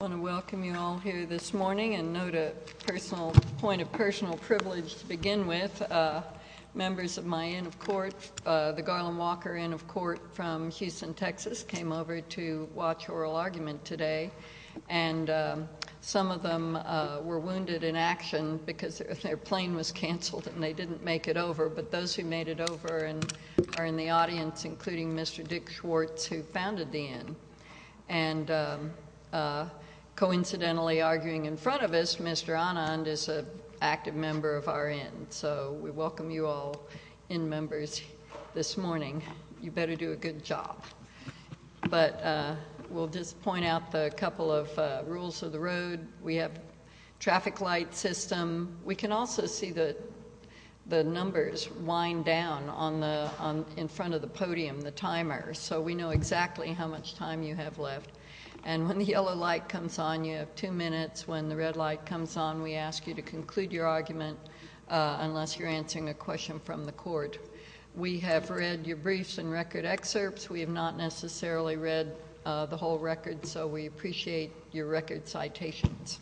I want to welcome you all here this morning, and note a point of personal privilege to begin with. Members of my Inn of Court, the Garland Walker Inn of Court from Houston, Texas, came over to watch oral argument today. And some of them were wounded in action because their plane was canceled and they didn't make it over. But those who made it over are in the audience, including Mr. Dick Schwartz, who founded the Inn. And coincidentally arguing in front of us, Mr. Anand is an active member of our Inn. So we welcome you all, Inn members, this morning. You better do a good job. But we'll just point out a couple of rules of the road. We have traffic light system. We can also see the numbers wind down in front of the podium, the timer. So we know exactly how much time you have left. And when the yellow light comes on, you have two minutes. When the red light comes on, we ask you to conclude your argument unless you're answering a question from the court. We have read your briefs and record excerpts. We have not necessarily read the whole record, so we appreciate your record citations.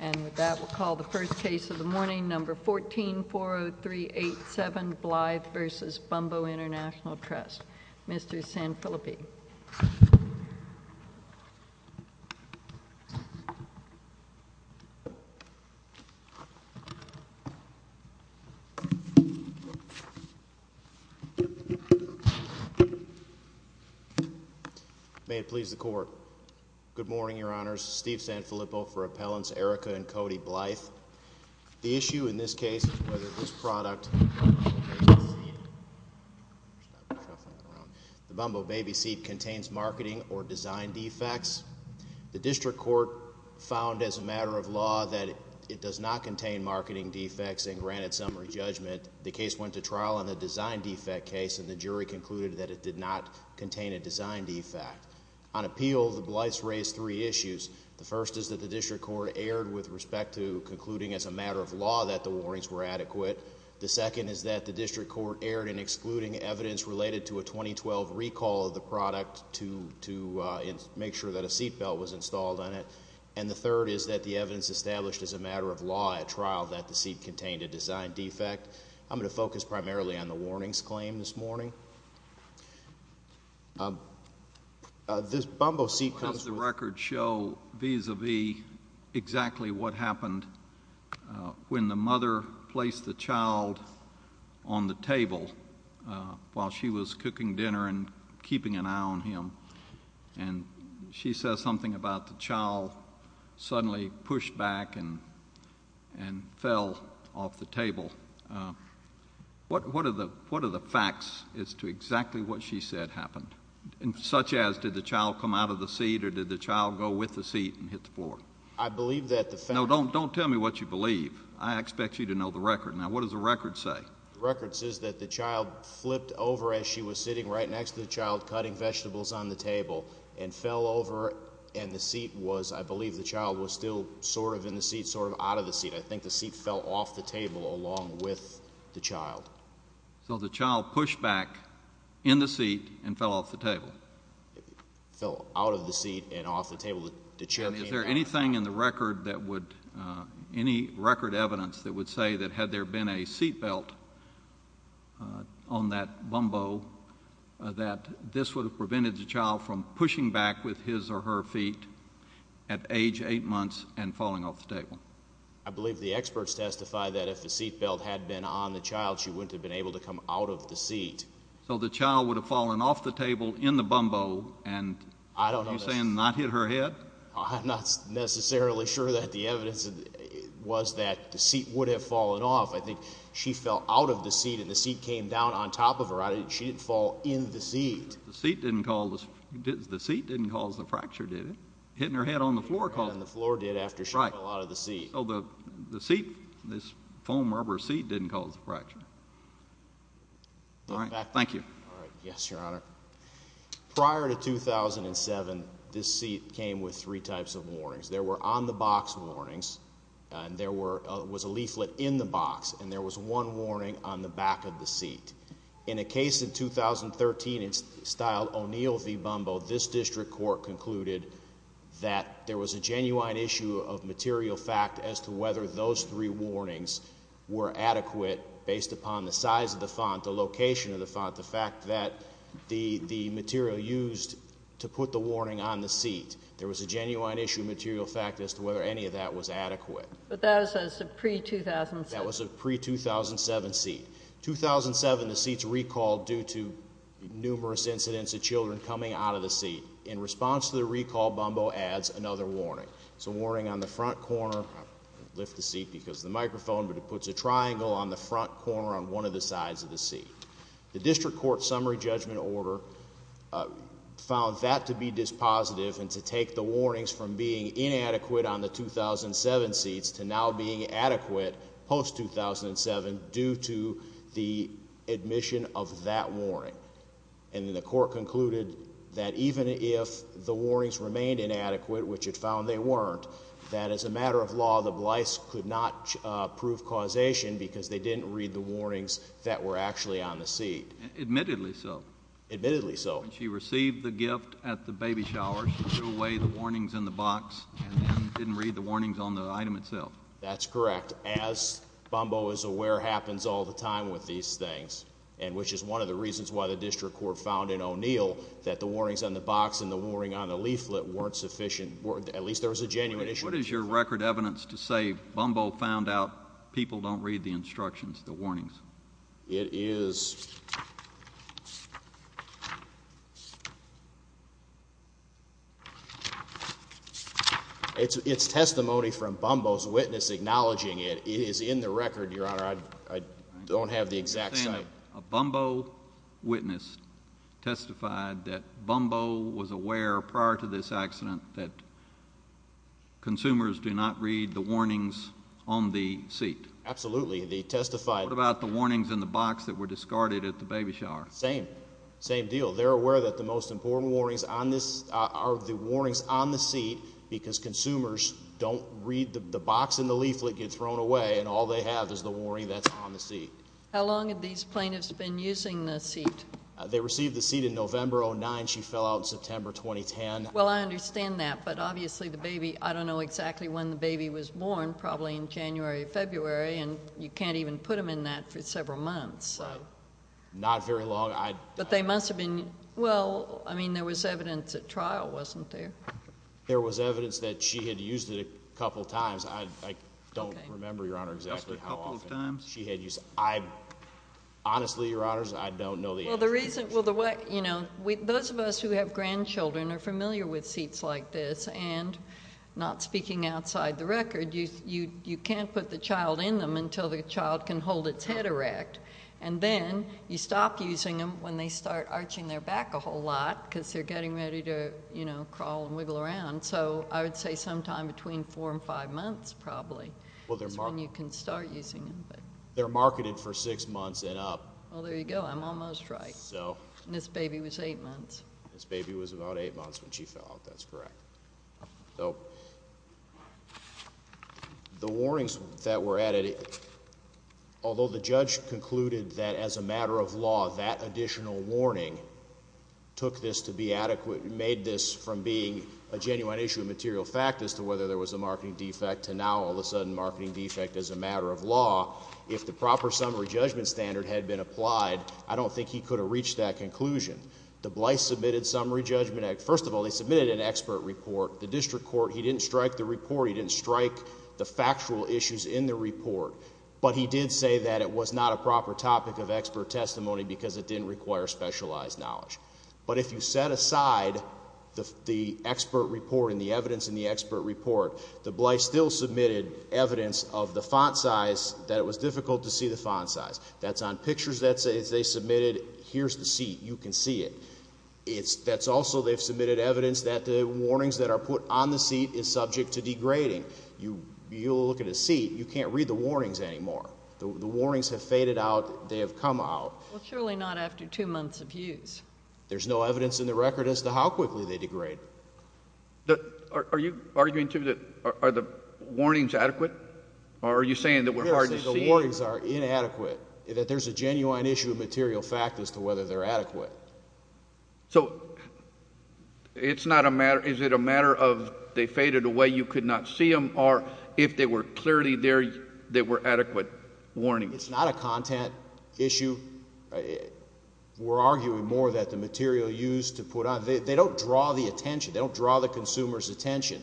And with that, we'll call the first case of the morning, number 1440387, Blythe v. Bumbo International Trust. Mr. Sanfilippi. Good morning, Your Honors. Steve Sanfilippi for Appellants Erica and Cody Blythe. The issue in this case is whether this product, the Bumbo baby seat, contains marketing or design defects. The district court found as a matter of law that it does not contain marketing defects and granted summary judgment. The case went to trial on the design defect case, and the jury concluded that it did not contain a design defect. On appeal, the Blythe's raised three issues. The first is that the district court erred with respect to concluding as a matter of law that the warnings were adequate. The second is that the district court erred in excluding evidence related to a 2012 recall of the product to make sure that a seat belt was installed on it. And the third is that the evidence established as a matter of law at trial that the seat contained a design defect. I'm going to focus primarily on the warnings claim this morning. This Bumbo seat comes from the record show vis-a-vis exactly what happened when the mother placed the child on the table while she was cooking dinner and keeping an eye on him. And she says something about the child suddenly pushed back and fell off the table. What are the facts as to exactly what she said happened? And such as did the child come out of the seat or did the child go with the seat and hit the floor? I believe that the fact No, don't tell me what you believe. I expect you to know the record. Now, what does the record say? The record says that the child flipped over as she was sitting right next to the child cutting vegetables on the table and fell over. And the seat was I believe the child was still sort of in the seat, sort of out of the seat. I think the seat fell off the table along with the child. So the child pushed back in the seat and fell off the table? It fell out of the seat and off the table. And is there anything in the record that would any record evidence that would say that had there been a seat belt on that bumbo that this would have prevented the child from pushing back with his or her feet at age eight months and falling off the table? I believe the experts testify that if the seat belt had been on the child, she wouldn't have been able to come out of the seat. So the child would have fallen off the table in the bumbo and I don't understand. You're saying not hit her head? I'm not necessarily sure that the evidence was that the seat would have fallen off. I think she fell out of the seat and the seat came down on top of her. She didn't fall in the seat. The seat didn't cause the fracture, did it? Hitting her head on the floor caused it. Hitting her head on the floor did after she fell out of the seat. So the seat, this foam rubber seat didn't cause the fracture. All right. Thank you. All right. Yes, Your Honor. Prior to 2007, this seat came with three types of warnings. There were on-the-box warnings and there was a leaflet in the box and there was one warning on the back of the seat. In a case in 2013, it's styled O'Neill v. Bumbo. This district court concluded that there was a genuine issue of material fact as to whether those three warnings were adequate based upon the size of the font, the location of the font, the fact that the material used to put the warning on the seat. There was a genuine issue of material fact as to whether any of that was adequate. But that was a pre-2007. That was a pre-2007 seat. 2007, the seat's recalled due to numerous incidents of children coming out of the seat. In response to the recall, Bumbo adds another warning. It's a warning on the front corner. I lift the seat because of the microphone, but it puts a triangle on the front corner on one of the sides of the seat. The district court summary judgment order found that to be dispositive and to take the warnings from being inadequate on the 2007 seats to now being adequate post-2007 due to the admission of that warning. And then the court concluded that even if the warnings remained inadequate, which it found they weren't, that as a matter of law, the Blyce could not prove causation because they didn't read the warnings that were actually on the seat. Admittedly so. Admittedly so. When she received the gift at the baby shower, she threw away the warnings in the box and then didn't read the warnings on the item itself. That's correct. As Bumbo is aware, happens all the time with these things, and which is one of the reasons why the district court found in O'Neill that the warnings on the box and the warning on the leaflet weren't sufficient. At least there was a genuine issue. What is your record evidence to say Bumbo found out people don't read the instructions, the warnings? It is testimony from Bumbo's witness acknowledging it. It is in the record, Your Honor. I don't have the exact site. A Bumbo witness testified that Bumbo was aware prior to this accident that consumers do not read the warnings on the seat. Absolutely. They testified. What about the warnings in the box that were discarded at the baby shower? Same. Same deal. They're aware that the most important warnings on this are the warnings on the seat because consumers don't read the box and the leaflet get thrown away, and all they have is the warning that's on the seat. How long have these plaintiffs been using the seat? They received the seat in November of 2009. She fell out in September 2010. Well, I understand that, but obviously the baby, I don't know exactly when the baby was born, probably in January or February, and you can't even put them in that for several months. Right. Not very long. But they must have been, well, I mean, there was evidence at trial, wasn't there? There was evidence that she had used it a couple times. I don't remember, Your Honor, exactly how often she had used it. Honestly, Your Honors, I don't know the answer. Those of us who have grandchildren are familiar with seats like this, and not speaking outside the record, you can't put the child in them until the child can hold its head erect, and then you stop using them when they start arching their back a whole lot because they're getting ready to crawl and wiggle around. So I would say sometime between four and five months probably is when you can start using them. They're marketed for six months and up. Well, there you go. I'm almost right. This baby was eight months. This baby was about eight months when she fell out. That's correct. So the warnings that were added, although the judge concluded that as a matter of law that additional warning took this to be adequate, made this from being a genuine issue of material fact as to whether there was a marketing defect to now all of a sudden marketing defect as a matter of law, if the proper summary judgment standard had been applied, I don't think he could have reached that conclusion. The Blythe Submitted Summary Judgment Act, first of all, they submitted an expert report. The district court, he didn't strike the report. He didn't strike the factual issues in the report, but he did say that it was not a proper topic of expert testimony because it didn't require specialized knowledge. But if you set aside the expert report and the evidence in the expert report, the Blythe still submitted evidence of the font size that it was difficult to see the font size. That's on pictures that they submitted. Here's the seat. You can see it. That's also they've submitted evidence that the warnings that are put on the seat is subject to degrading. You look at a seat, you can't read the warnings anymore. The warnings have faded out. They have come out. Well, surely not after two months of use. There's no evidence in the record as to how quickly they degrade. Are you arguing, too, that are the warnings adequate? Or are you saying that we're hard to see? Yes, that the warnings are inadequate, that there's a genuine issue of material fact as to whether they're adequate. So it's not a matter, is it a matter of they faded away, you could not see them, or if they were clearly there, they were adequate warnings? It's not a content issue. We're arguing more that the material used to put on, they don't draw the attention. They don't draw the consumer's attention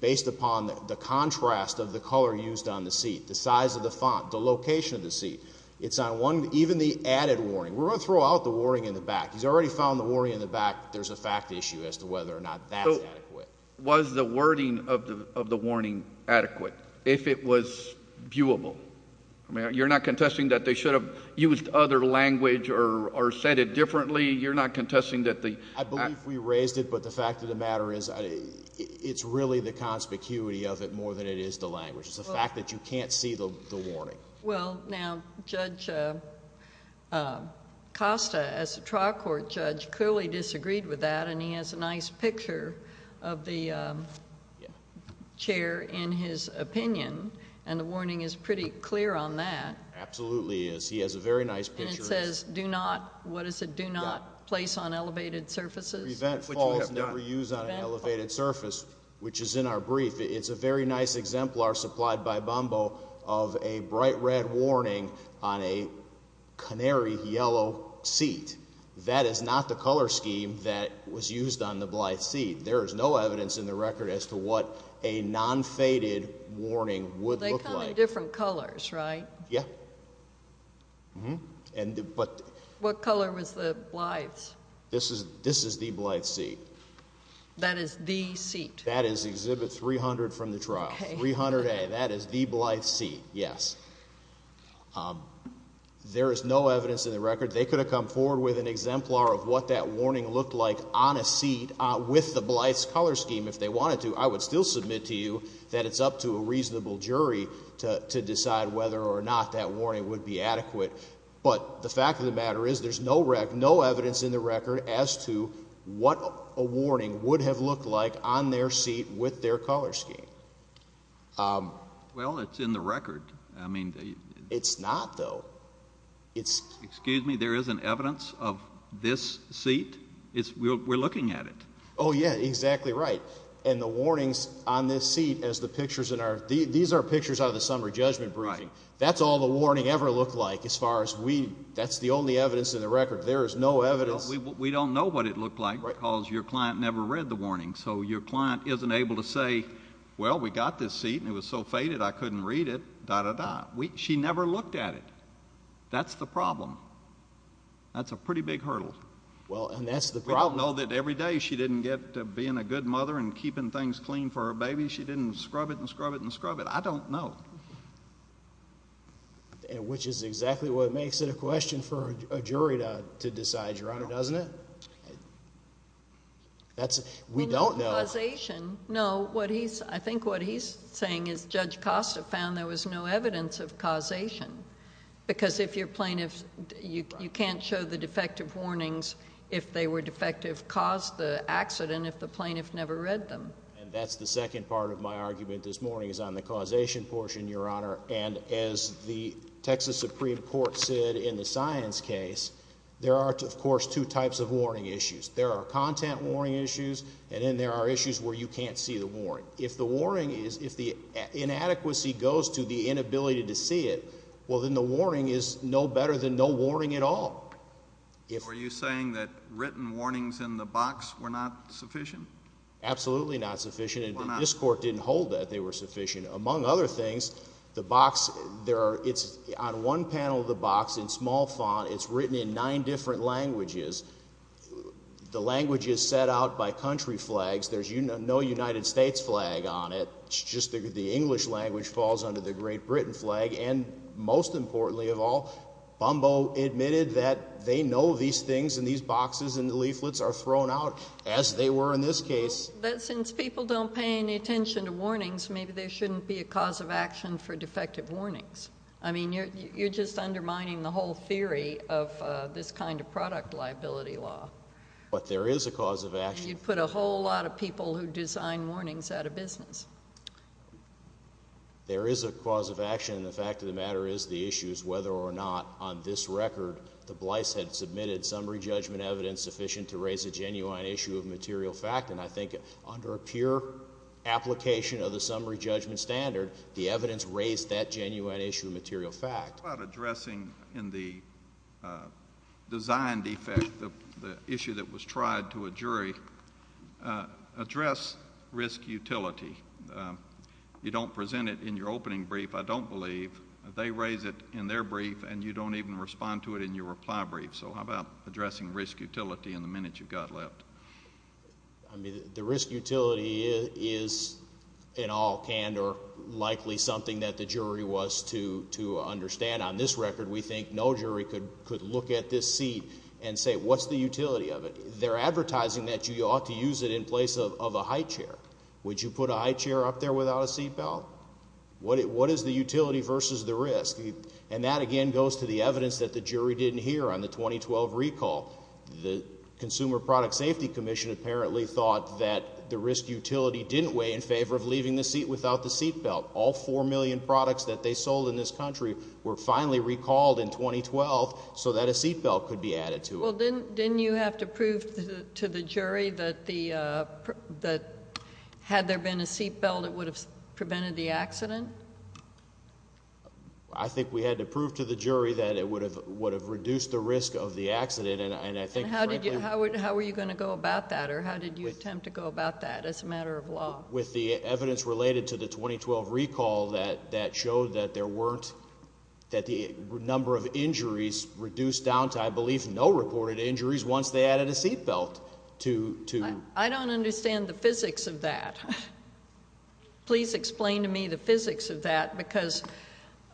based upon the contrast of the color used on the seat, the size of the font, the location of the seat. It's not one, even the added warning. We're going to throw out the warning in the back. He's already found the warning in the back. There's a fact issue as to whether or not that's adequate. Was the wording of the warning adequate? If it was viewable? You're not contesting that they should have used other language or said it differently? You're not contesting that the— I believe we raised it, but the fact of the matter is it's really the conspicuity of it more than it is the language. It's the fact that you can't see the warning. Well, now, Judge Costa, as a trial court judge, clearly disagreed with that, and he has a nice picture of the chair in his opinion, and the warning is pretty clear on that. Absolutely is. He has a very nice picture. And it says, do not, what is it, do not place on elevated surfaces? Prevent falls, never use on an elevated surface, which is in our brief. It's a very nice exemplar supplied by Bombo of a bright red warning on a canary yellow seat. That is not the color scheme that was used on the Blythe seat. There is no evidence in the record as to what a non-faded warning would look like. They come in different colors, right? Yeah. What color was the Blythe's? This is the Blythe seat. That is the seat? That is exhibit 300 from the trial, 300A. That is the Blythe seat, yes. There is no evidence in the record. They could have come forward with an exemplar of what that warning looked like on a seat with the Blythe's color scheme if they wanted to. I would still submit to you that it's up to a reasonable jury to decide whether or not that warning would be adequate. But the fact of the matter is there's no evidence in the record as to what a warning would have looked like on their seat with their color scheme. Well, it's in the record. It's not, though. Excuse me? There isn't evidence of this seat? We're looking at it. Oh, yeah, exactly right. And the warnings on this seat, these are pictures out of the summer judgment briefing. Right. What does all the warning ever look like as far as we, that's the only evidence in the record. There is no evidence. We don't know what it looked like because your client never read the warning. So your client isn't able to say, well, we got this seat and it was so faded I couldn't read it, da, da, da. She never looked at it. That's the problem. That's a pretty big hurdle. Well, and that's the problem. We don't know that every day she didn't get to being a good mother and keeping things clean for her baby. She didn't scrub it and scrub it and scrub it. I don't know. Which is exactly what makes it a question for a jury to decide, Your Honor, doesn't it? We don't know. No, I think what he's saying is Judge Costa found there was no evidence of causation. Because if your plaintiff, you can't show the defective warnings if they were defective, cause the accident if the plaintiff never read them. And that's the second part of my argument this morning is on the causation portion, Your Honor. And as the Texas Supreme Court said in the science case, there are, of course, two types of warning issues. There are content warning issues and then there are issues where you can't see the warning. If the warning is, if the inadequacy goes to the inability to see it, well, then the warning is no better than no warning at all. Were you saying that written warnings in the box were not sufficient? Absolutely not sufficient. And this Court didn't hold that they were sufficient. Among other things, the box, there are, it's on one panel of the box in small font. It's written in nine different languages. The language is set out by country flags. There's no United States flag on it. It's just the English language falls under the Great Britain flag. And most importantly of all, Bumbo admitted that they know these things and these boxes and the leaflets are thrown out as they were in this case. But since people don't pay any attention to warnings, maybe there shouldn't be a cause of action for defective warnings. I mean, you're just undermining the whole theory of this kind of product liability law. But there is a cause of action. You'd put a whole lot of people who design warnings out of business. There is a cause of action. And the fact of the matter is the issue is whether or not on this record the Blyce had submitted summary judgment evidence sufficient to raise a genuine issue of material fact. And I think under a pure application of the summary judgment standard, the evidence raised that genuine issue of material fact. What about addressing in the design defect, the issue that was tried to a jury, address risk utility? You don't present it in your opening brief, I don't believe. They raise it in their brief, and you don't even respond to it in your reply brief. So how about addressing risk utility in the minute you've got left? I mean, the risk utility is in all candor likely something that the jury was to understand. On this record, we think no jury could look at this seat and say, what's the utility of it? They're advertising that you ought to use it in place of a high chair. Would you put a high chair up there without a seat belt? What is the utility versus the risk? And that again goes to the evidence that the jury didn't hear on the 2012 recall. The Consumer Product Safety Commission apparently thought that the risk utility didn't weigh in favor of leaving the seat without the seat belt. All 4 million products that they sold in this country were finally recalled in 2012 so that a seat belt could be added to it. Well, didn't you have to prove to the jury that had there been a seat belt, it would have prevented the accident? I think we had to prove to the jury that it would have reduced the risk of the accident. How were you going to go about that, or how did you attempt to go about that as a matter of law? With the evidence related to the 2012 recall that showed that the number of injuries reduced down to, I believe, no reported injuries once they added a seat belt. I don't understand the physics of that. Please explain to me the physics of that because,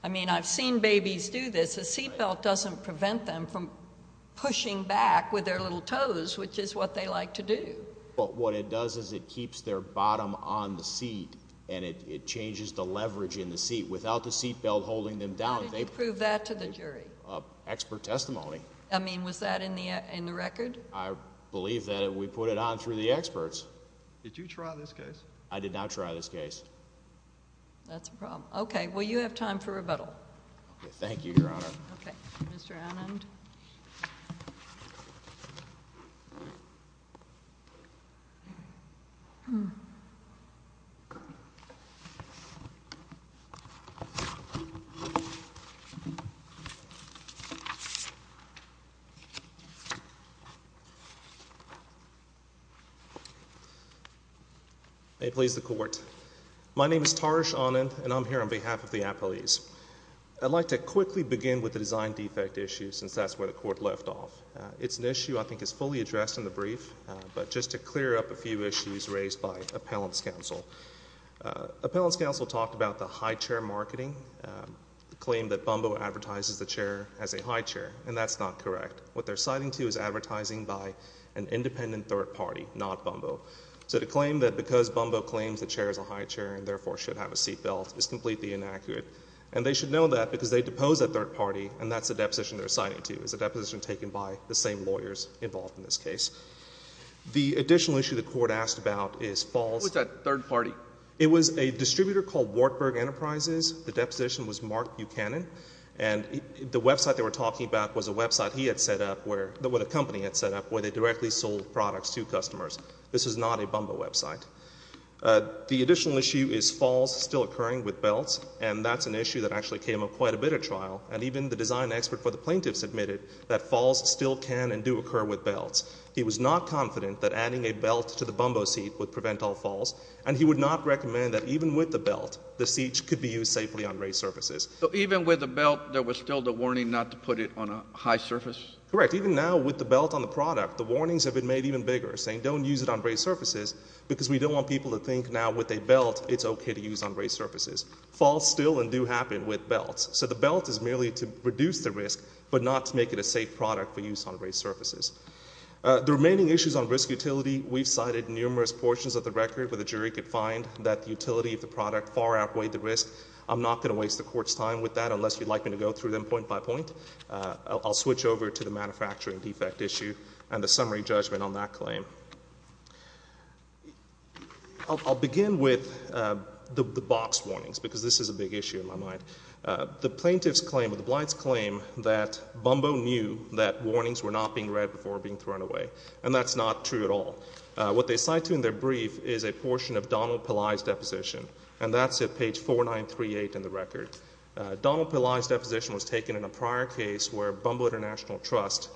I mean, I've seen babies do this. A seat belt doesn't prevent them from pushing back with their little toes, which is what they like to do. Well, what it does is it keeps their bottom on the seat and it changes the leverage in the seat. Without the seat belt holding them down, they... How did you prove that to the jury? Expert testimony. I mean, was that in the record? I believe that we put it on through the experts. Did you try this case? I did not try this case. That's a problem. Okay. Well, you have time for rebuttal. Thank you, Your Honor. Okay. Mr. Anand? May it please the Court. My name is Taresh Anand and I'm here on behalf of the appellees. I'd like to quickly begin with the design defect issue since that's where the Court left off. It's an issue I think is fully addressed in the brief, but just to clear up a few issues raised by Appellant's Counsel. Appellant's Counsel talked about the high chair marketing, the claim that Bumbo advertises the chair as a high chair, and that's not correct. What they're citing to is advertising by an independent third party, not Bumbo. So to claim that because Bumbo claims the chair is a high chair and therefore should have a seat belt is completely inaccurate. And they should know that because they depose a third party, and that's the deposition they're citing to. It's a deposition taken by the same lawyers involved in this case. The additional issue the Court asked about is Falls... What's that third party? It was a distributor called Wartburg Enterprises. The deposition was Mark Buchanan. And the website they were talking about was a website he had set up where... a company had set up where they directly sold products to customers. This is not a Bumbo website. The additional issue is Falls still occurring with belts, and that's an issue that actually came up quite a bit at trial. And even the design expert for the plaintiffs admitted that Falls still can and do occur with belts. He was not confident that adding a belt to the Bumbo seat would prevent all Falls. And he would not recommend that even with the belt, the seat could be used safely on race surfaces. So even with the belt, there was still the warning not to put it on a high surface? Correct. Even now with the belt on the product, the warnings have been made even bigger, saying don't use it on race surfaces, because we don't want people to think now with a belt it's okay to use on race surfaces. Falls still and do happen with belts. So the belt is merely to reduce the risk, but not to make it a safe product for use on race surfaces. The remaining issues on risk utility, we've cited numerous portions of the record where the jury could find that the utility of the product far outweighed the risk. I'm not going to waste the Court's time with that unless you'd like me to go through them point by point. I'll switch over to the manufacturing defect issue and the summary judgment on that claim. I'll begin with the box warnings, because this is a big issue in my mind. The plaintiff's claim or the Blight's claim that Bumbo knew that warnings were not being read before being thrown away. And that's not true at all. What they cite to in their brief is a portion of Donald Pillai's deposition, and that's at page 4938 in the record. Donald Pillai's deposition was taken in a prior case where Bumbo International Trust,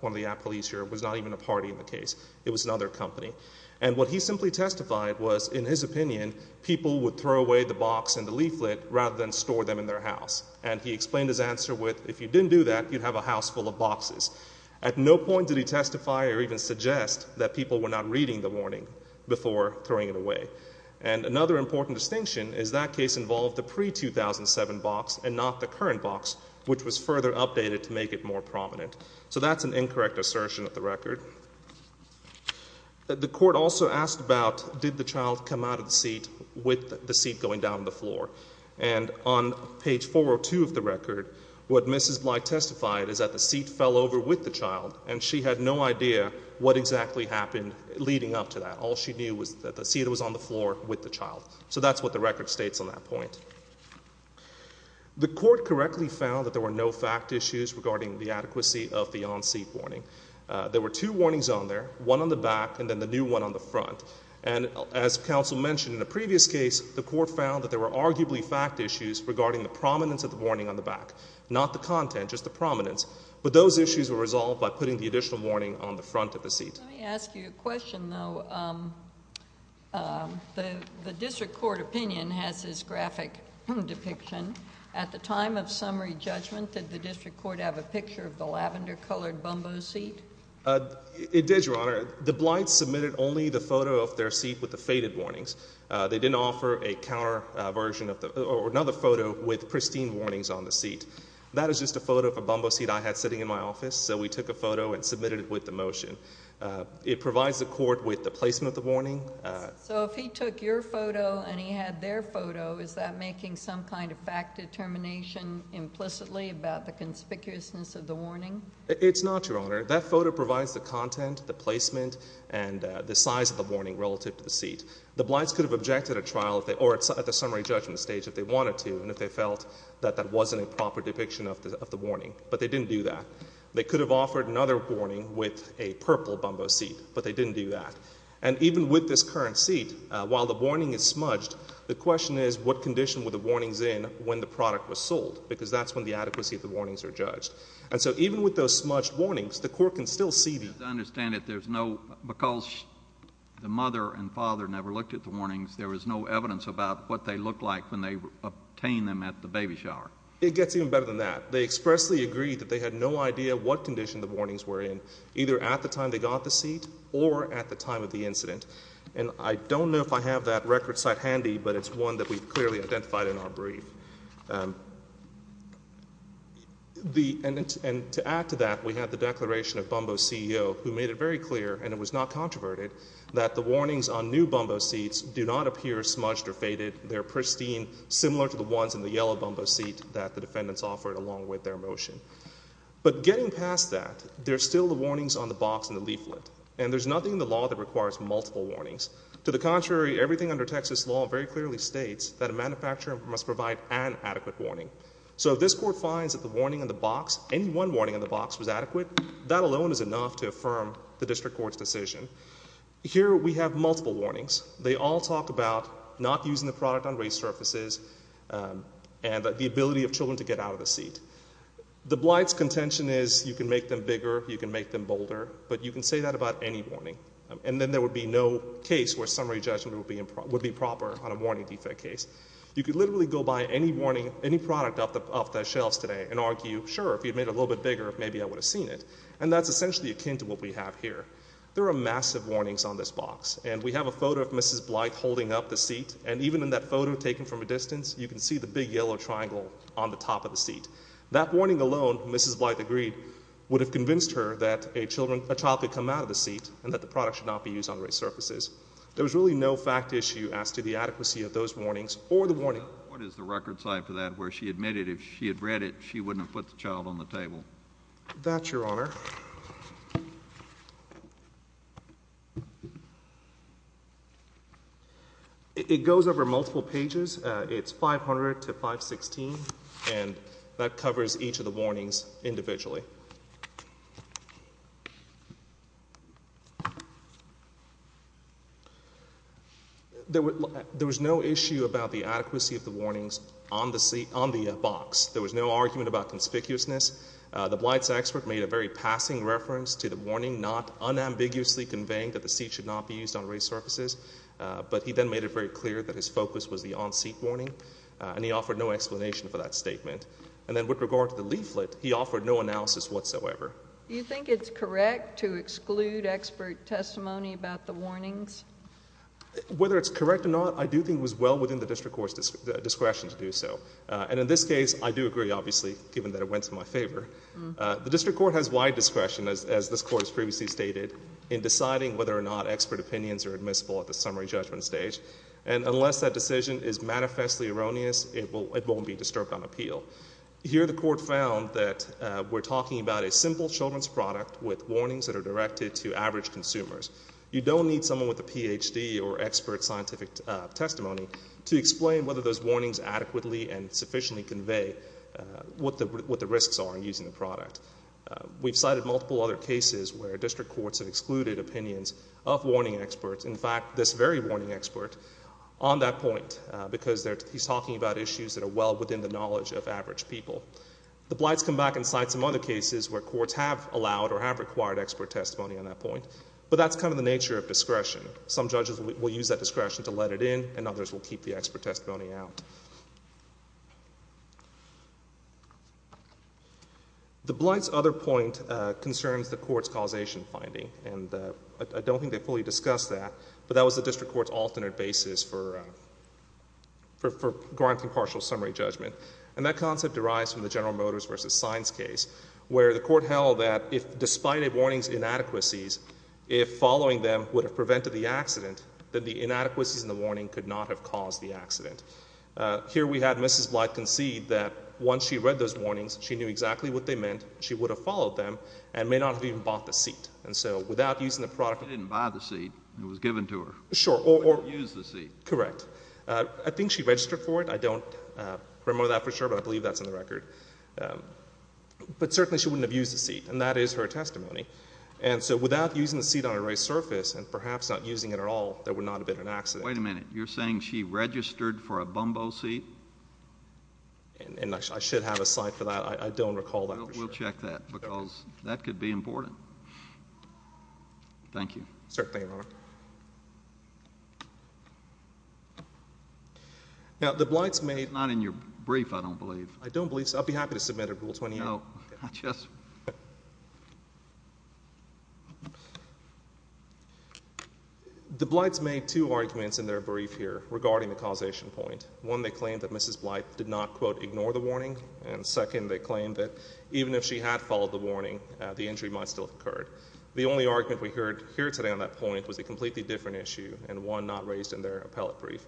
one of the police here, was not even a party in the case. It was another company. And what he simply testified was in his opinion people would throw away the box and the leaflet rather than store them in their house. And he explained his answer with if you didn't do that, you'd have a house full of boxes. At no point did he testify or even suggest that people were not reading the warning before throwing it away. And another important distinction is that case involved the pre-2007 box and not the current box, which was further updated to make it more prominent. So that's an incorrect assertion of the record. The court also asked about did the child come out of the seat with the seat going down on the floor. And on page 402 of the record, what Mrs. Pillai testified is that the seat fell over with the child, and she had no idea what exactly happened leading up to that. All she knew was that the seat was on the floor with the child. So that's what the record states on that point. The court correctly found that there were no fact issues regarding the adequacy of the on-seat warning. There were two warnings on there, one on the back and then the new one on the front. And as counsel mentioned in the previous case, the court found that there were arguably fact issues regarding the prominence of the warning on the back, not the content, just the prominence. But those issues were resolved by putting the additional warning on the front of the seat. Let me ask you a question, though. The district court opinion has this graphic depiction. At the time of summary judgment, did the district court have a picture of the lavender-colored Bumbo seat? It did, Your Honor. The blights submitted only the photo of their seat with the faded warnings. They didn't offer another photo with pristine warnings on the seat. That is just a photo of a Bumbo seat I had sitting in my office, so we took a photo and submitted it with the motion. It provides the court with the placement of the warning. So if he took your photo and he had their photo, is that making some kind of fact determination implicitly about the conspicuousness of the warning? It's not, Your Honor. That photo provides the content, the placement, and the size of the warning relative to the seat. The blights could have objected at trial or at the summary judgment stage if they wanted to and if they felt that that wasn't a proper depiction of the warning, but they didn't do that. They could have offered another warning with a purple Bumbo seat, but they didn't do that. And even with this current seat, while the warning is smudged, the question is what condition were the warnings in when the product was sold, because that's when the adequacy of the warnings are judged. And so even with those smudged warnings, the court can still see these. As I understand it, because the mother and father never looked at the warnings, there was no evidence about what they looked like when they obtained them at the baby shower. It gets even better than that. They expressly agreed that they had no idea what condition the warnings were in, either at the time they got the seat or at the time of the incident. And I don't know if I have that record site handy, but it's one that we've clearly identified in our brief. And to add to that, we have the declaration of Bumbo CEO, who made it very clear, and it was not controverted, that the warnings on new Bumbo seats do not appear smudged or faded. They're pristine, similar to the ones in the yellow Bumbo seat that the defendants offered along with their motion. But getting past that, there's still the warnings on the box and the leaflet, and there's nothing in the law that requires multiple warnings. To the contrary, everything under Texas law very clearly states that a manufacturer must provide an adequate warning. So if this court finds that the warning on the box, any one warning on the box was adequate, that alone is enough to affirm the district court's decision. Here we have multiple warnings. They all talk about not using the product on raised surfaces and the ability of children to get out of the seat. The blight's contention is you can make them bigger, you can make them bolder, but you can say that about any warning. And then there would be no case where summary judgment would be proper on a warning defect case. You could literally go buy any product off the shelves today and argue, sure, if you made it a little bit bigger, maybe I would have seen it. And that's essentially akin to what we have here. There are massive warnings on this box, and we have a photo of Mrs. Blythe holding up the seat, and even in that photo taken from a distance, you can see the big yellow triangle on the top of the seat. That warning alone, Mrs. Blythe agreed, would have convinced her that a child could come out of the seat and that the product should not be used on raised surfaces. There was really no fact issue as to the adequacy of those warnings or the warning. What is the record size for that where she admitted if she had read it, she wouldn't have put the child on the table? That, Your Honor. It goes over multiple pages. It's 500 to 516, and that covers each of the warnings individually. There was no issue about the adequacy of the warnings on the box. There was no argument about conspicuousness. The Blythe's expert made a very passing reference to the warning, not unambiguously conveying that the seat should not be used on raised surfaces, but he then made it very clear that his focus was the on-seat warning, and he offered no explanation for that statement. And then with regard to the leaflet, he offered no analysis whatsoever. Do you think it's correct to exclude expert testimony about the warnings? Whether it's correct or not, I do think it was well within the district court's discretion to do so. And in this case, I do agree, obviously, given that it went to my favor. The district court has wide discretion, as this Court has previously stated, in deciding whether or not expert opinions are admissible at the summary judgment stage. And unless that decision is manifestly erroneous, it won't be disturbed on appeal. Here the Court found that we're talking about a simple children's product with warnings that are directed to average consumers. You don't need someone with a Ph.D. or expert scientific testimony to explain whether those warnings adequately and sufficiently convey what the risks are in using the product. We've cited multiple other cases where district courts have excluded opinions of warning experts. In fact, this very warning expert on that point, because he's talking about issues that are well within the knowledge of average people. The Blights come back and cite some other cases where courts have allowed or have required expert testimony on that point. But that's kind of the nature of discretion. Some judges will use that discretion to let it in, and others will keep the expert testimony out. The Blights' other point concerns the Court's causation finding. And I don't think they fully discussed that, but that was the district court's alternate basis for granting partial summary judgment. And that concept derives from the General Motors v. Sines case, where the Court held that despite a warning's inadequacies, if following them would have prevented the accident, here we had Mrs. Blight concede that once she read those warnings, she knew exactly what they meant, she would have followed them, and may not have even bought the seat. And so without using the product of— She didn't buy the seat. It was given to her. Sure. She wouldn't have used the seat. Correct. I think she registered for it. I don't remember that for sure, but I believe that's in the record. But certainly she wouldn't have used the seat, and that is her testimony. And so without using the seat on a raised surface, and perhaps not using it at all, there would not have been an accident. Wait a minute. You're saying she registered for a Bumbo seat? I should have a slide for that. I don't recall that for sure. We'll check that, because that could be important. Thank you. Certainly, Your Honor. Now the Blights made— Not in your brief, I don't believe. I don't believe so. I'd be happy to submit a Rule 28. No, I just— The Blights made two arguments in their brief here regarding the causation point. One, they claimed that Mrs. Blight did not, quote, ignore the warning, and second, they claimed that even if she had followed the warning, the injury might still have occurred. The only argument we heard here today on that point was a completely different issue, and one not raised in their appellate brief.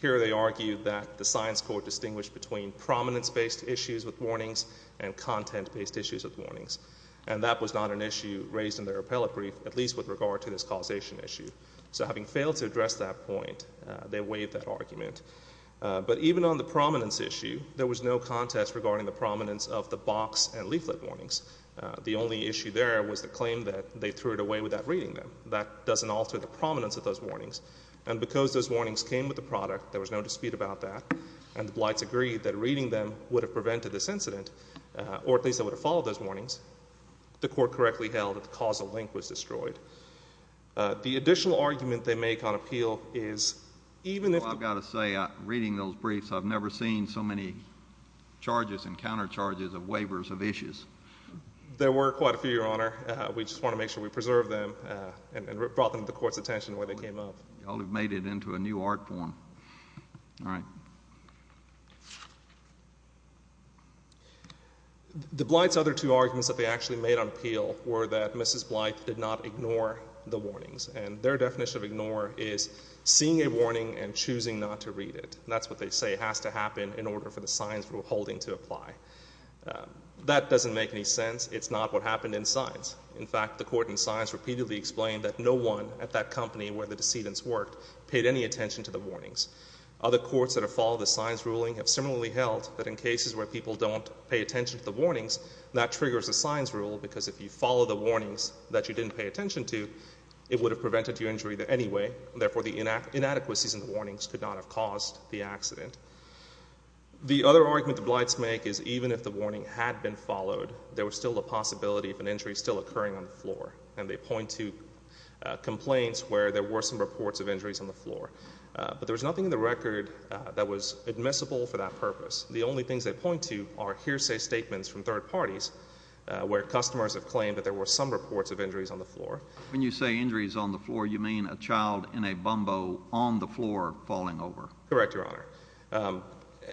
Here they argued that the science court distinguished between prominence-based issues with warnings and content-based issues with warnings, and that was not an issue raised in their appellate brief, at least with regard to this causation issue. So having failed to address that point, they waived that argument. But even on the prominence issue, there was no contest regarding the prominence of the box and leaflet warnings. The only issue there was the claim that they threw it away without reading them. That doesn't alter the prominence of those warnings. And because those warnings came with the product, there was no dispute about that, and the Blights agreed that reading them would have prevented this incident, or at least they would have followed those warnings, unless the court correctly held that the causal link was destroyed. The additional argument they make on appeal is even if— Oh, I've got to say, reading those briefs, I've never seen so many charges and countercharges of waivers of issues. There were quite a few, Your Honor. We just want to make sure we preserve them and brought them to the court's attention where they came up. Y'all have made it into a new art form. All right. The Blights' other two arguments that they actually made on appeal were that Mrs. Blight did not ignore the warnings, and their definition of ignore is seeing a warning and choosing not to read it. That's what they say has to happen in order for the signs we're holding to apply. That doesn't make any sense. It's not what happened in signs. In fact, the court in signs repeatedly explained that no one at that company where the decedents worked paid any attention to the warnings. Other courts that have followed the signs ruling have similarly held that in cases where people don't pay attention to the warnings, that triggers a signs rule because if you follow the warnings that you didn't pay attention to, it would have prevented your injury anyway. Therefore, the inadequacies in the warnings could not have caused the accident. The other argument the Blights make is even if the warning had been followed, there was still a possibility of an injury still occurring on the floor, but there was nothing in the record that was admissible for that purpose. The only things they point to are hearsay statements from third parties where customers have claimed that there were some reports of injuries on the floor. When you say injuries on the floor, you mean a child in a bumbo on the floor falling over. Correct, Your Honor.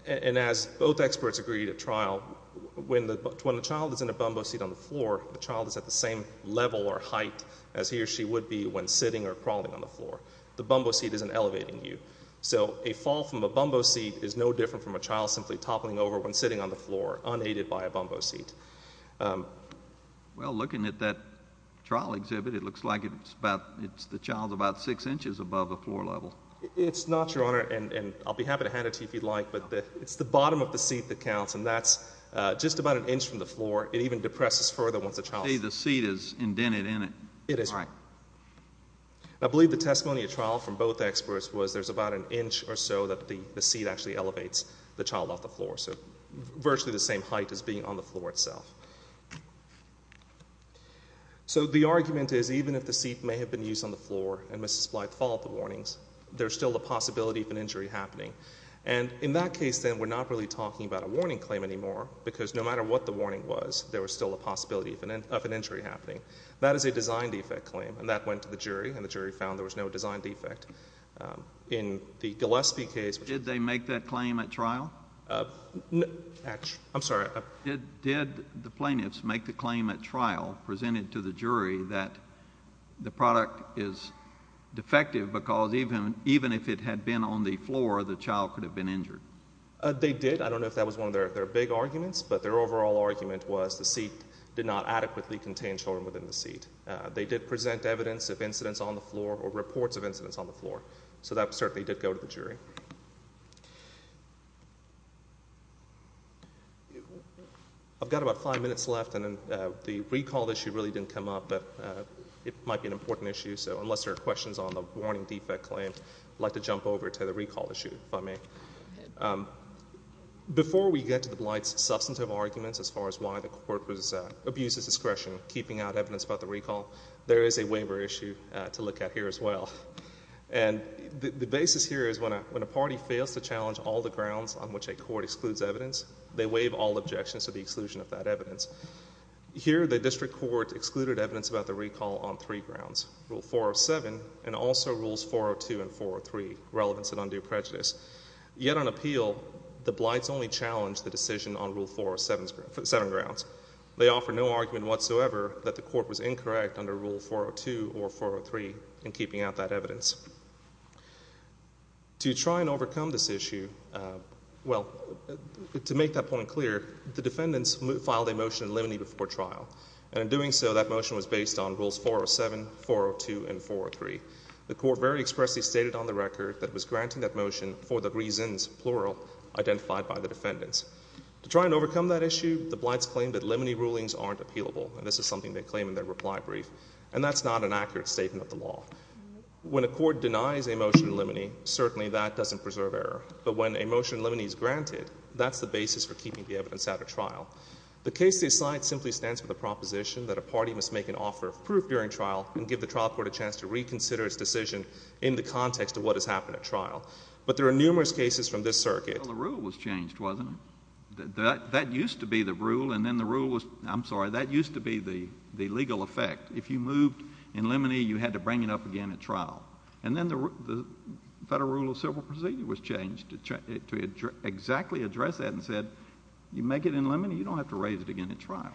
And as both experts agreed at trial, when the child is in a bumbo seat on the floor, the child is at the same level or height as he or she would be when sitting or crawling on the floor. The bumbo seat isn't elevating you. So a fall from a bumbo seat is no different from a child simply toppling over when sitting on the floor unaided by a bumbo seat. Well, looking at that trial exhibit, it looks like the child is about six inches above the floor level. It's not, Your Honor, and I'll be happy to hand it to you if you'd like, but it's the bottom of the seat that counts, and that's just about an inch from the floor. It even depresses further once the child is on it. See, the seat is indented in it. It is. All right. I believe the testimony at trial from both experts was there's about an inch or so that the seat actually elevates the child off the floor, so virtually the same height as being on the floor itself. So the argument is even if the seat may have been used on the floor and Mrs. Blythe followed the warnings, there's still a possibility of an injury happening. And in that case, then, we're not really talking about a warning claim anymore because no matter what the warning was, there was still a possibility of an injury happening. That is a design defect claim, and that went to the jury, and the jury found there was no design defect in the Gillespie case. Did they make that claim at trial? I'm sorry. Did the plaintiffs make the claim at trial presented to the jury that the product is defective because even if it had been on the floor, the child could have been injured? They did. I don't know if that was one of their big arguments, but their overall argument was the seat did not adequately contain children within the seat. They did present evidence of incidents on the floor or reports of incidents on the floor, so that certainly did go to the jury. I've got about five minutes left, and the recall issue really didn't come up, but it might be an important issue, so unless there are questions on the warning defect claim, I'd like to jump over to the recall issue, if I may. Before we get to the Blight's substantive arguments as far as why the court abuses discretion keeping out evidence about the recall, there is a waiver issue to look at here as well. The basis here is when a party fails to challenge all the grounds on which a court excludes evidence, they waive all objections to the exclusion of that evidence. Here the district court excluded evidence about the recall on three grounds, Rule 407 and also Rules 402 and 403, relevance and undue prejudice. Yet on appeal, the Blights only challenged the decision on Rule 407 grounds. They offered no argument whatsoever that the court was incorrect under Rule 402 or 403 in keeping out that evidence. To try and overcome this issue, well, to make that point clear, the defendants filed a motion in limine before trial, and in doing so, that motion was based on Rules 407, 402, and 403. The court very expressly stated on the record that it was granting that motion for the reasons, plural, identified by the defendants. To try and overcome that issue, the Blights claim that limine rulings aren't appealable, and this is something they claim in their reply brief, and that's not an accurate statement of the law. When a court denies a motion in limine, certainly that doesn't preserve error, but when a motion in limine is granted, that's the basis for keeping the evidence out of trial. The case they cite simply stands for the proposition that a party must make an offer of proof during trial and give the trial court a chance to reconsider its decision in the context of what has happened at trial. But there are numerous cases from this circuit. Well, the rule was changed, wasn't it? That used to be the rule, and then the rule was – I'm sorry. That used to be the legal effect. If you moved in limine, you had to bring it up again at trial. And then the Federal Rule of Civil Procedure was changed to exactly address that and said you make it in limine, you don't have to raise it again at trial.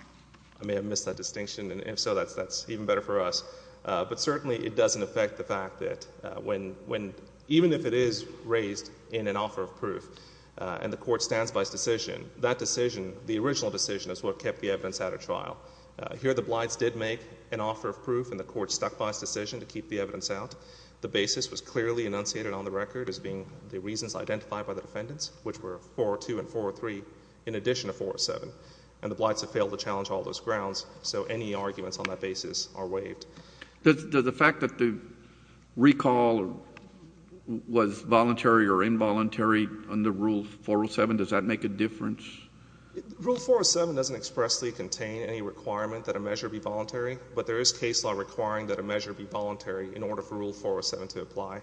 I may have missed that distinction, and if so, that's even better for us. But certainly it doesn't affect the fact that even if it is raised in an offer of proof and the court stands by its decision, that decision, the original decision, is what kept the evidence out of trial. Here the blights did make an offer of proof, and the court stuck by its decision to keep the evidence out. The basis was clearly enunciated on the record as being the reasons identified by the defendants, which were 402 and 403 in addition to 407. And the blights have failed to challenge all those grounds, so any arguments on that basis are waived. Does the fact that the recall was voluntary or involuntary under Rule 407, does that make a difference? Rule 407 doesn't expressly contain any requirement that a measure be voluntary, but there is case law requiring that a measure be voluntary in order for Rule 407 to apply.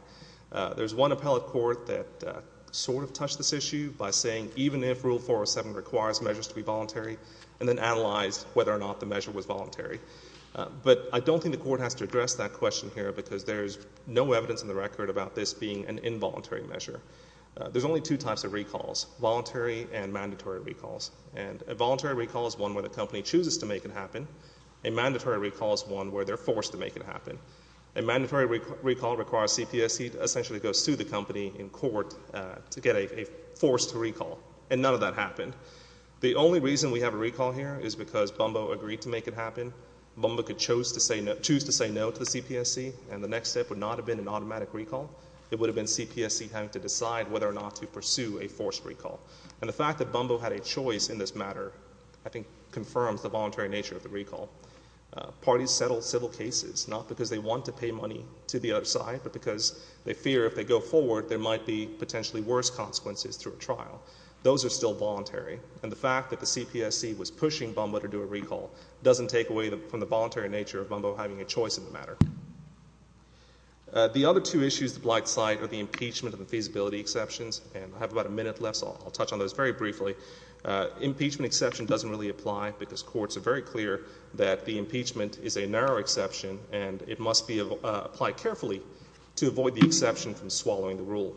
There's one appellate court that sort of touched this issue by saying even if Rule 407 requires measures to be voluntary and then analyzed whether or not the measure was voluntary. But I don't think the court has to address that question here because there's no evidence in the record about this being an involuntary measure. There's only two types of recalls, voluntary and mandatory recalls. And a voluntary recall is one where the company chooses to make it happen. A mandatory recall is one where they're forced to make it happen. A mandatory recall requires CPSC to essentially go sue the company in court to get a forced recall, and none of that happened. The only reason we have a recall here is because Bumbo agreed to make it happen. Bumbo chose to say no to the CPSC, and the next step would not have been an automatic recall. It would have been CPSC having to decide whether or not to pursue a forced recall. And the fact that Bumbo had a choice in this matter, I think, confirms the voluntary nature of the recall. Parties settle civil cases not because they want to pay money to the other side, but because they fear if they go forward there might be potentially worse consequences through a trial. Those are still voluntary, and the fact that the CPSC was pushing Bumbo to do a recall doesn't take away from the voluntary nature of Bumbo having a choice in the matter. The other two issues the Blight cite are the impeachment and the feasibility exceptions, and I have about a minute left, so I'll touch on those very briefly. Impeachment exception doesn't really apply because courts are very clear that the impeachment is a narrow exception and it must be applied carefully to avoid the exception from swallowing the rule.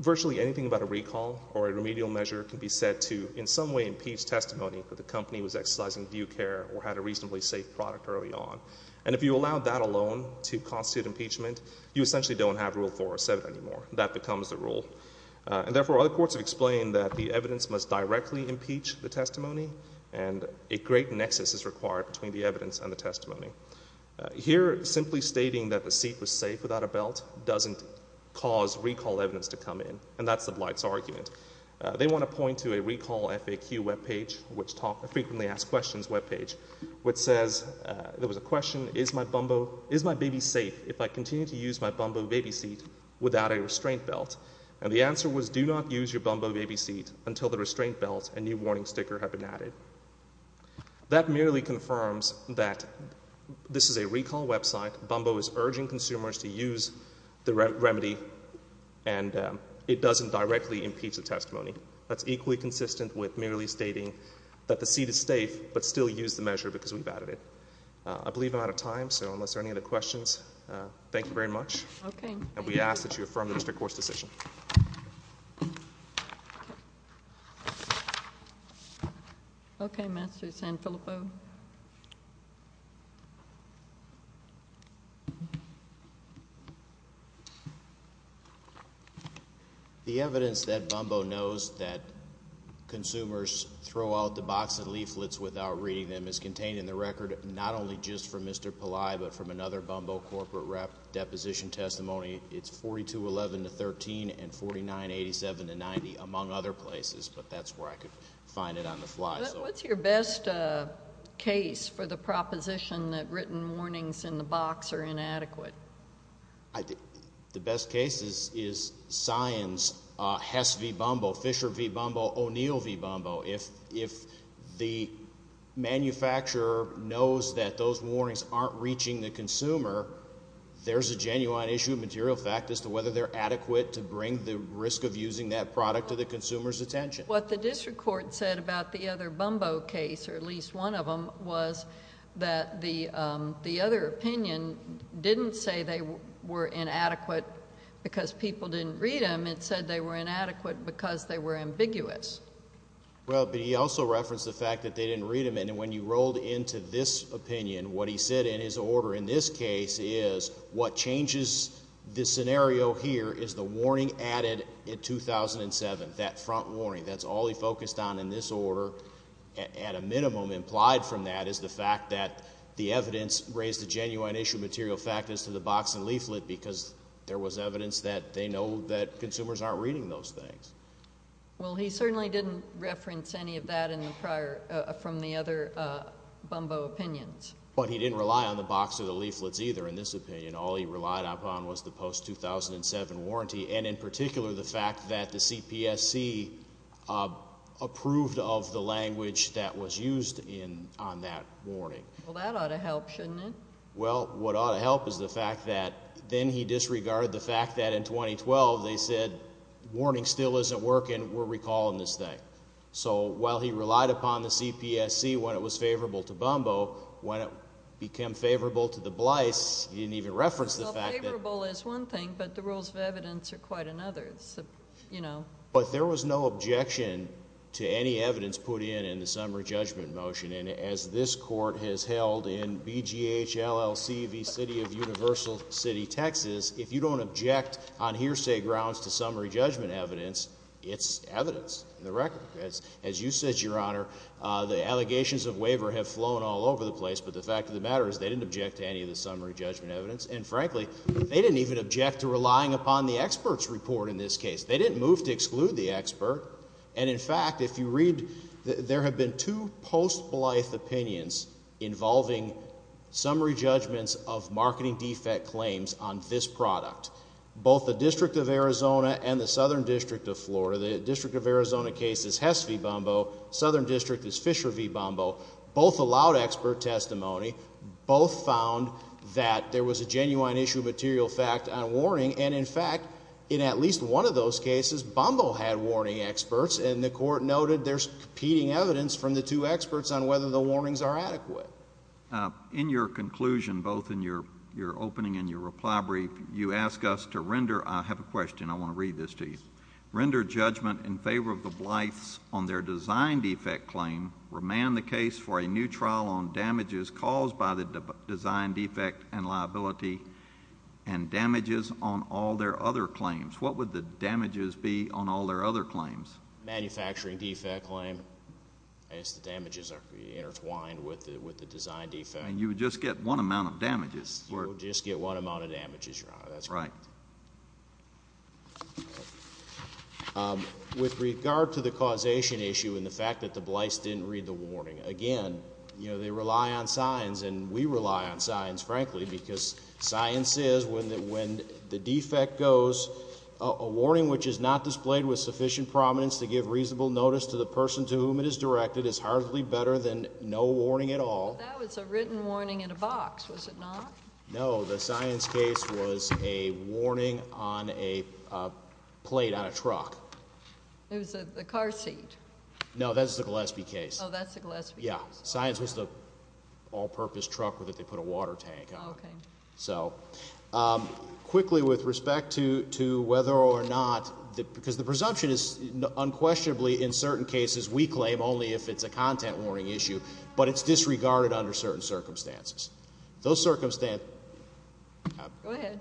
Virtually anything about a recall or a remedial measure can be said to in some way impeach testimony that the company was exercising due care or had a reasonably safe product early on. And if you allow that alone to constitute impeachment, you essentially don't have Rule 4 or 7 anymore. That becomes the rule. And therefore other courts have explained that the evidence must directly impeach the testimony and a great nexus is required between the evidence and the testimony. Here simply stating that the seat was safe without a belt doesn't cause recall evidence to come in, and that's the Blight's argument. They want to point to a recall FAQ webpage, a frequently asked questions webpage, which says there was a question, is my baby safe if I continue to use my Bumbo baby seat without a restraint belt? And the answer was do not use your Bumbo baby seat until the restraint belt and new warning sticker have been added. That merely confirms that this is a recall website. Bumbo is urging consumers to use the remedy, and it doesn't directly impeach the testimony. That's equally consistent with merely stating that the seat is safe but still use the measure because we've added it. I believe I'm out of time, so unless there are any other questions, thank you very much. Okay. And we ask that you affirm the district court's decision. Okay, Master Sanfilippo. The evidence that Bumbo knows that consumers throw out the box of leaflets without reading them is contained in the record not only just from Mr. Pillai but from another Bumbo corporate rep deposition testimony. It's 4211 to 13 and 4987 to 90, among other places, but that's where I could find it on the fly. What's your best case for the proposition that written warnings in the box are inadequate? The best case is Scion's Hess v. Bumbo, Fisher v. Bumbo, O'Neill v. Bumbo. If the manufacturer knows that those warnings aren't reaching the consumer, there's a genuine issue of material fact as to whether they're adequate to bring the risk of using that product to the consumer's attention. What the district court said about the other Bumbo case, or at least one of them, was that the other opinion didn't say they were inadequate because people didn't read them. And it said they were inadequate because they were ambiguous. Well, but he also referenced the fact that they didn't read them. And when you rolled into this opinion, what he said in his order in this case is what changes this scenario here is the warning added in 2007, that front warning. That's all he focused on in this order. At a minimum, implied from that is the fact that the evidence raised a genuine issue of material fact as to the box and leaflet because there was evidence that they know that consumers aren't reading those things. Well, he certainly didn't reference any of that in the prior, from the other Bumbo opinions. But he didn't rely on the box or the leaflets either in this opinion. All he relied upon was the post-2007 warranty and, in particular, the fact that the CPSC approved of the language that was used on that warning. Well, that ought to help, shouldn't it? Well, what ought to help is the fact that then he disregarded the fact that in 2012 they said, warning still isn't working, we're recalling this thing. So while he relied upon the CPSC when it was favorable to Bumbo, when it became favorable to the Blyce, he didn't even reference the fact that. Well, favorable is one thing, but the rules of evidence are quite another. But there was no objection to any evidence put in in the summary judgment motion. And as this Court has held in BGH LLC v. City of Universal City, Texas, if you don't object on hearsay grounds to summary judgment evidence, it's evidence in the record. As you said, Your Honor, the allegations of waiver have flown all over the place, but the fact of the matter is they didn't object to any of the summary judgment evidence. And, frankly, they didn't even object to relying upon the expert's report in this case. They didn't move to exclude the expert. And, in fact, if you read, there have been two post-Blythe opinions involving summary judgments of marketing defect claims on this product. Both the District of Arizona and the Southern District of Florida, the District of Arizona case is Hess v. Bumbo, Southern District is Fisher v. Bumbo. Both allowed expert testimony. Both found that there was a genuine issue of material fact on warning. And, in fact, in at least one of those cases, Bumbo had warning experts, and the Court noted there's competing evidence from the two experts on whether the warnings are adequate. In your conclusion, both in your opening and your reply brief, you ask us to render— I have a question. I want to read this to you. Render judgment in favor of the Blythes on their design defect claim, remand the case for a new trial on damages caused by the design defect and liability and damages on all their other claims. What would the damages be on all their other claims? Manufacturing defect claim. The damages are intertwined with the design defect. And you would just get one amount of damages. You would just get one amount of damages, Your Honor. That's correct. With regard to the causation issue and the fact that the Blythes didn't read the warning, again, they rely on signs, and we rely on signs, frankly, because science says when the defect goes, a warning which is not displayed with sufficient prominence to give reasonable notice to the person to whom it is directed is hardly better than no warning at all. That was a written warning in a box, was it not? No, the science case was a warning on a plate on a truck. It was a car seat. No, that's the Gillespie case. Oh, that's the Gillespie case. Yeah, signs was the all-purpose truck that they put a water tank on. Okay. So, quickly, with respect to whether or not, because the presumption is unquestionably in certain cases we claim only if it's a content warning issue, but it's disregarded under certain circumstances. Those circumstances... Go ahead.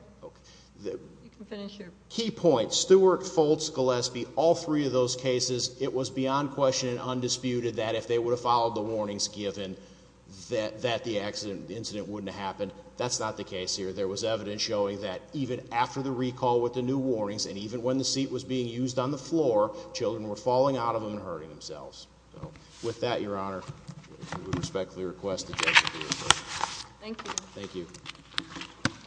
You can finish your... Key points, Stewart, Foltz, Gillespie, all three of those cases, it was beyond question and undisputed that if they would have followed the warnings given, that the incident wouldn't have happened. That's not the case here. There was evidence showing that even after the recall with the new warnings and even when the seat was being used on the floor, children were falling out of them and hurting themselves. So, with that, Your Honor, we respectfully request the judge to do his work. Thank you. Thank you.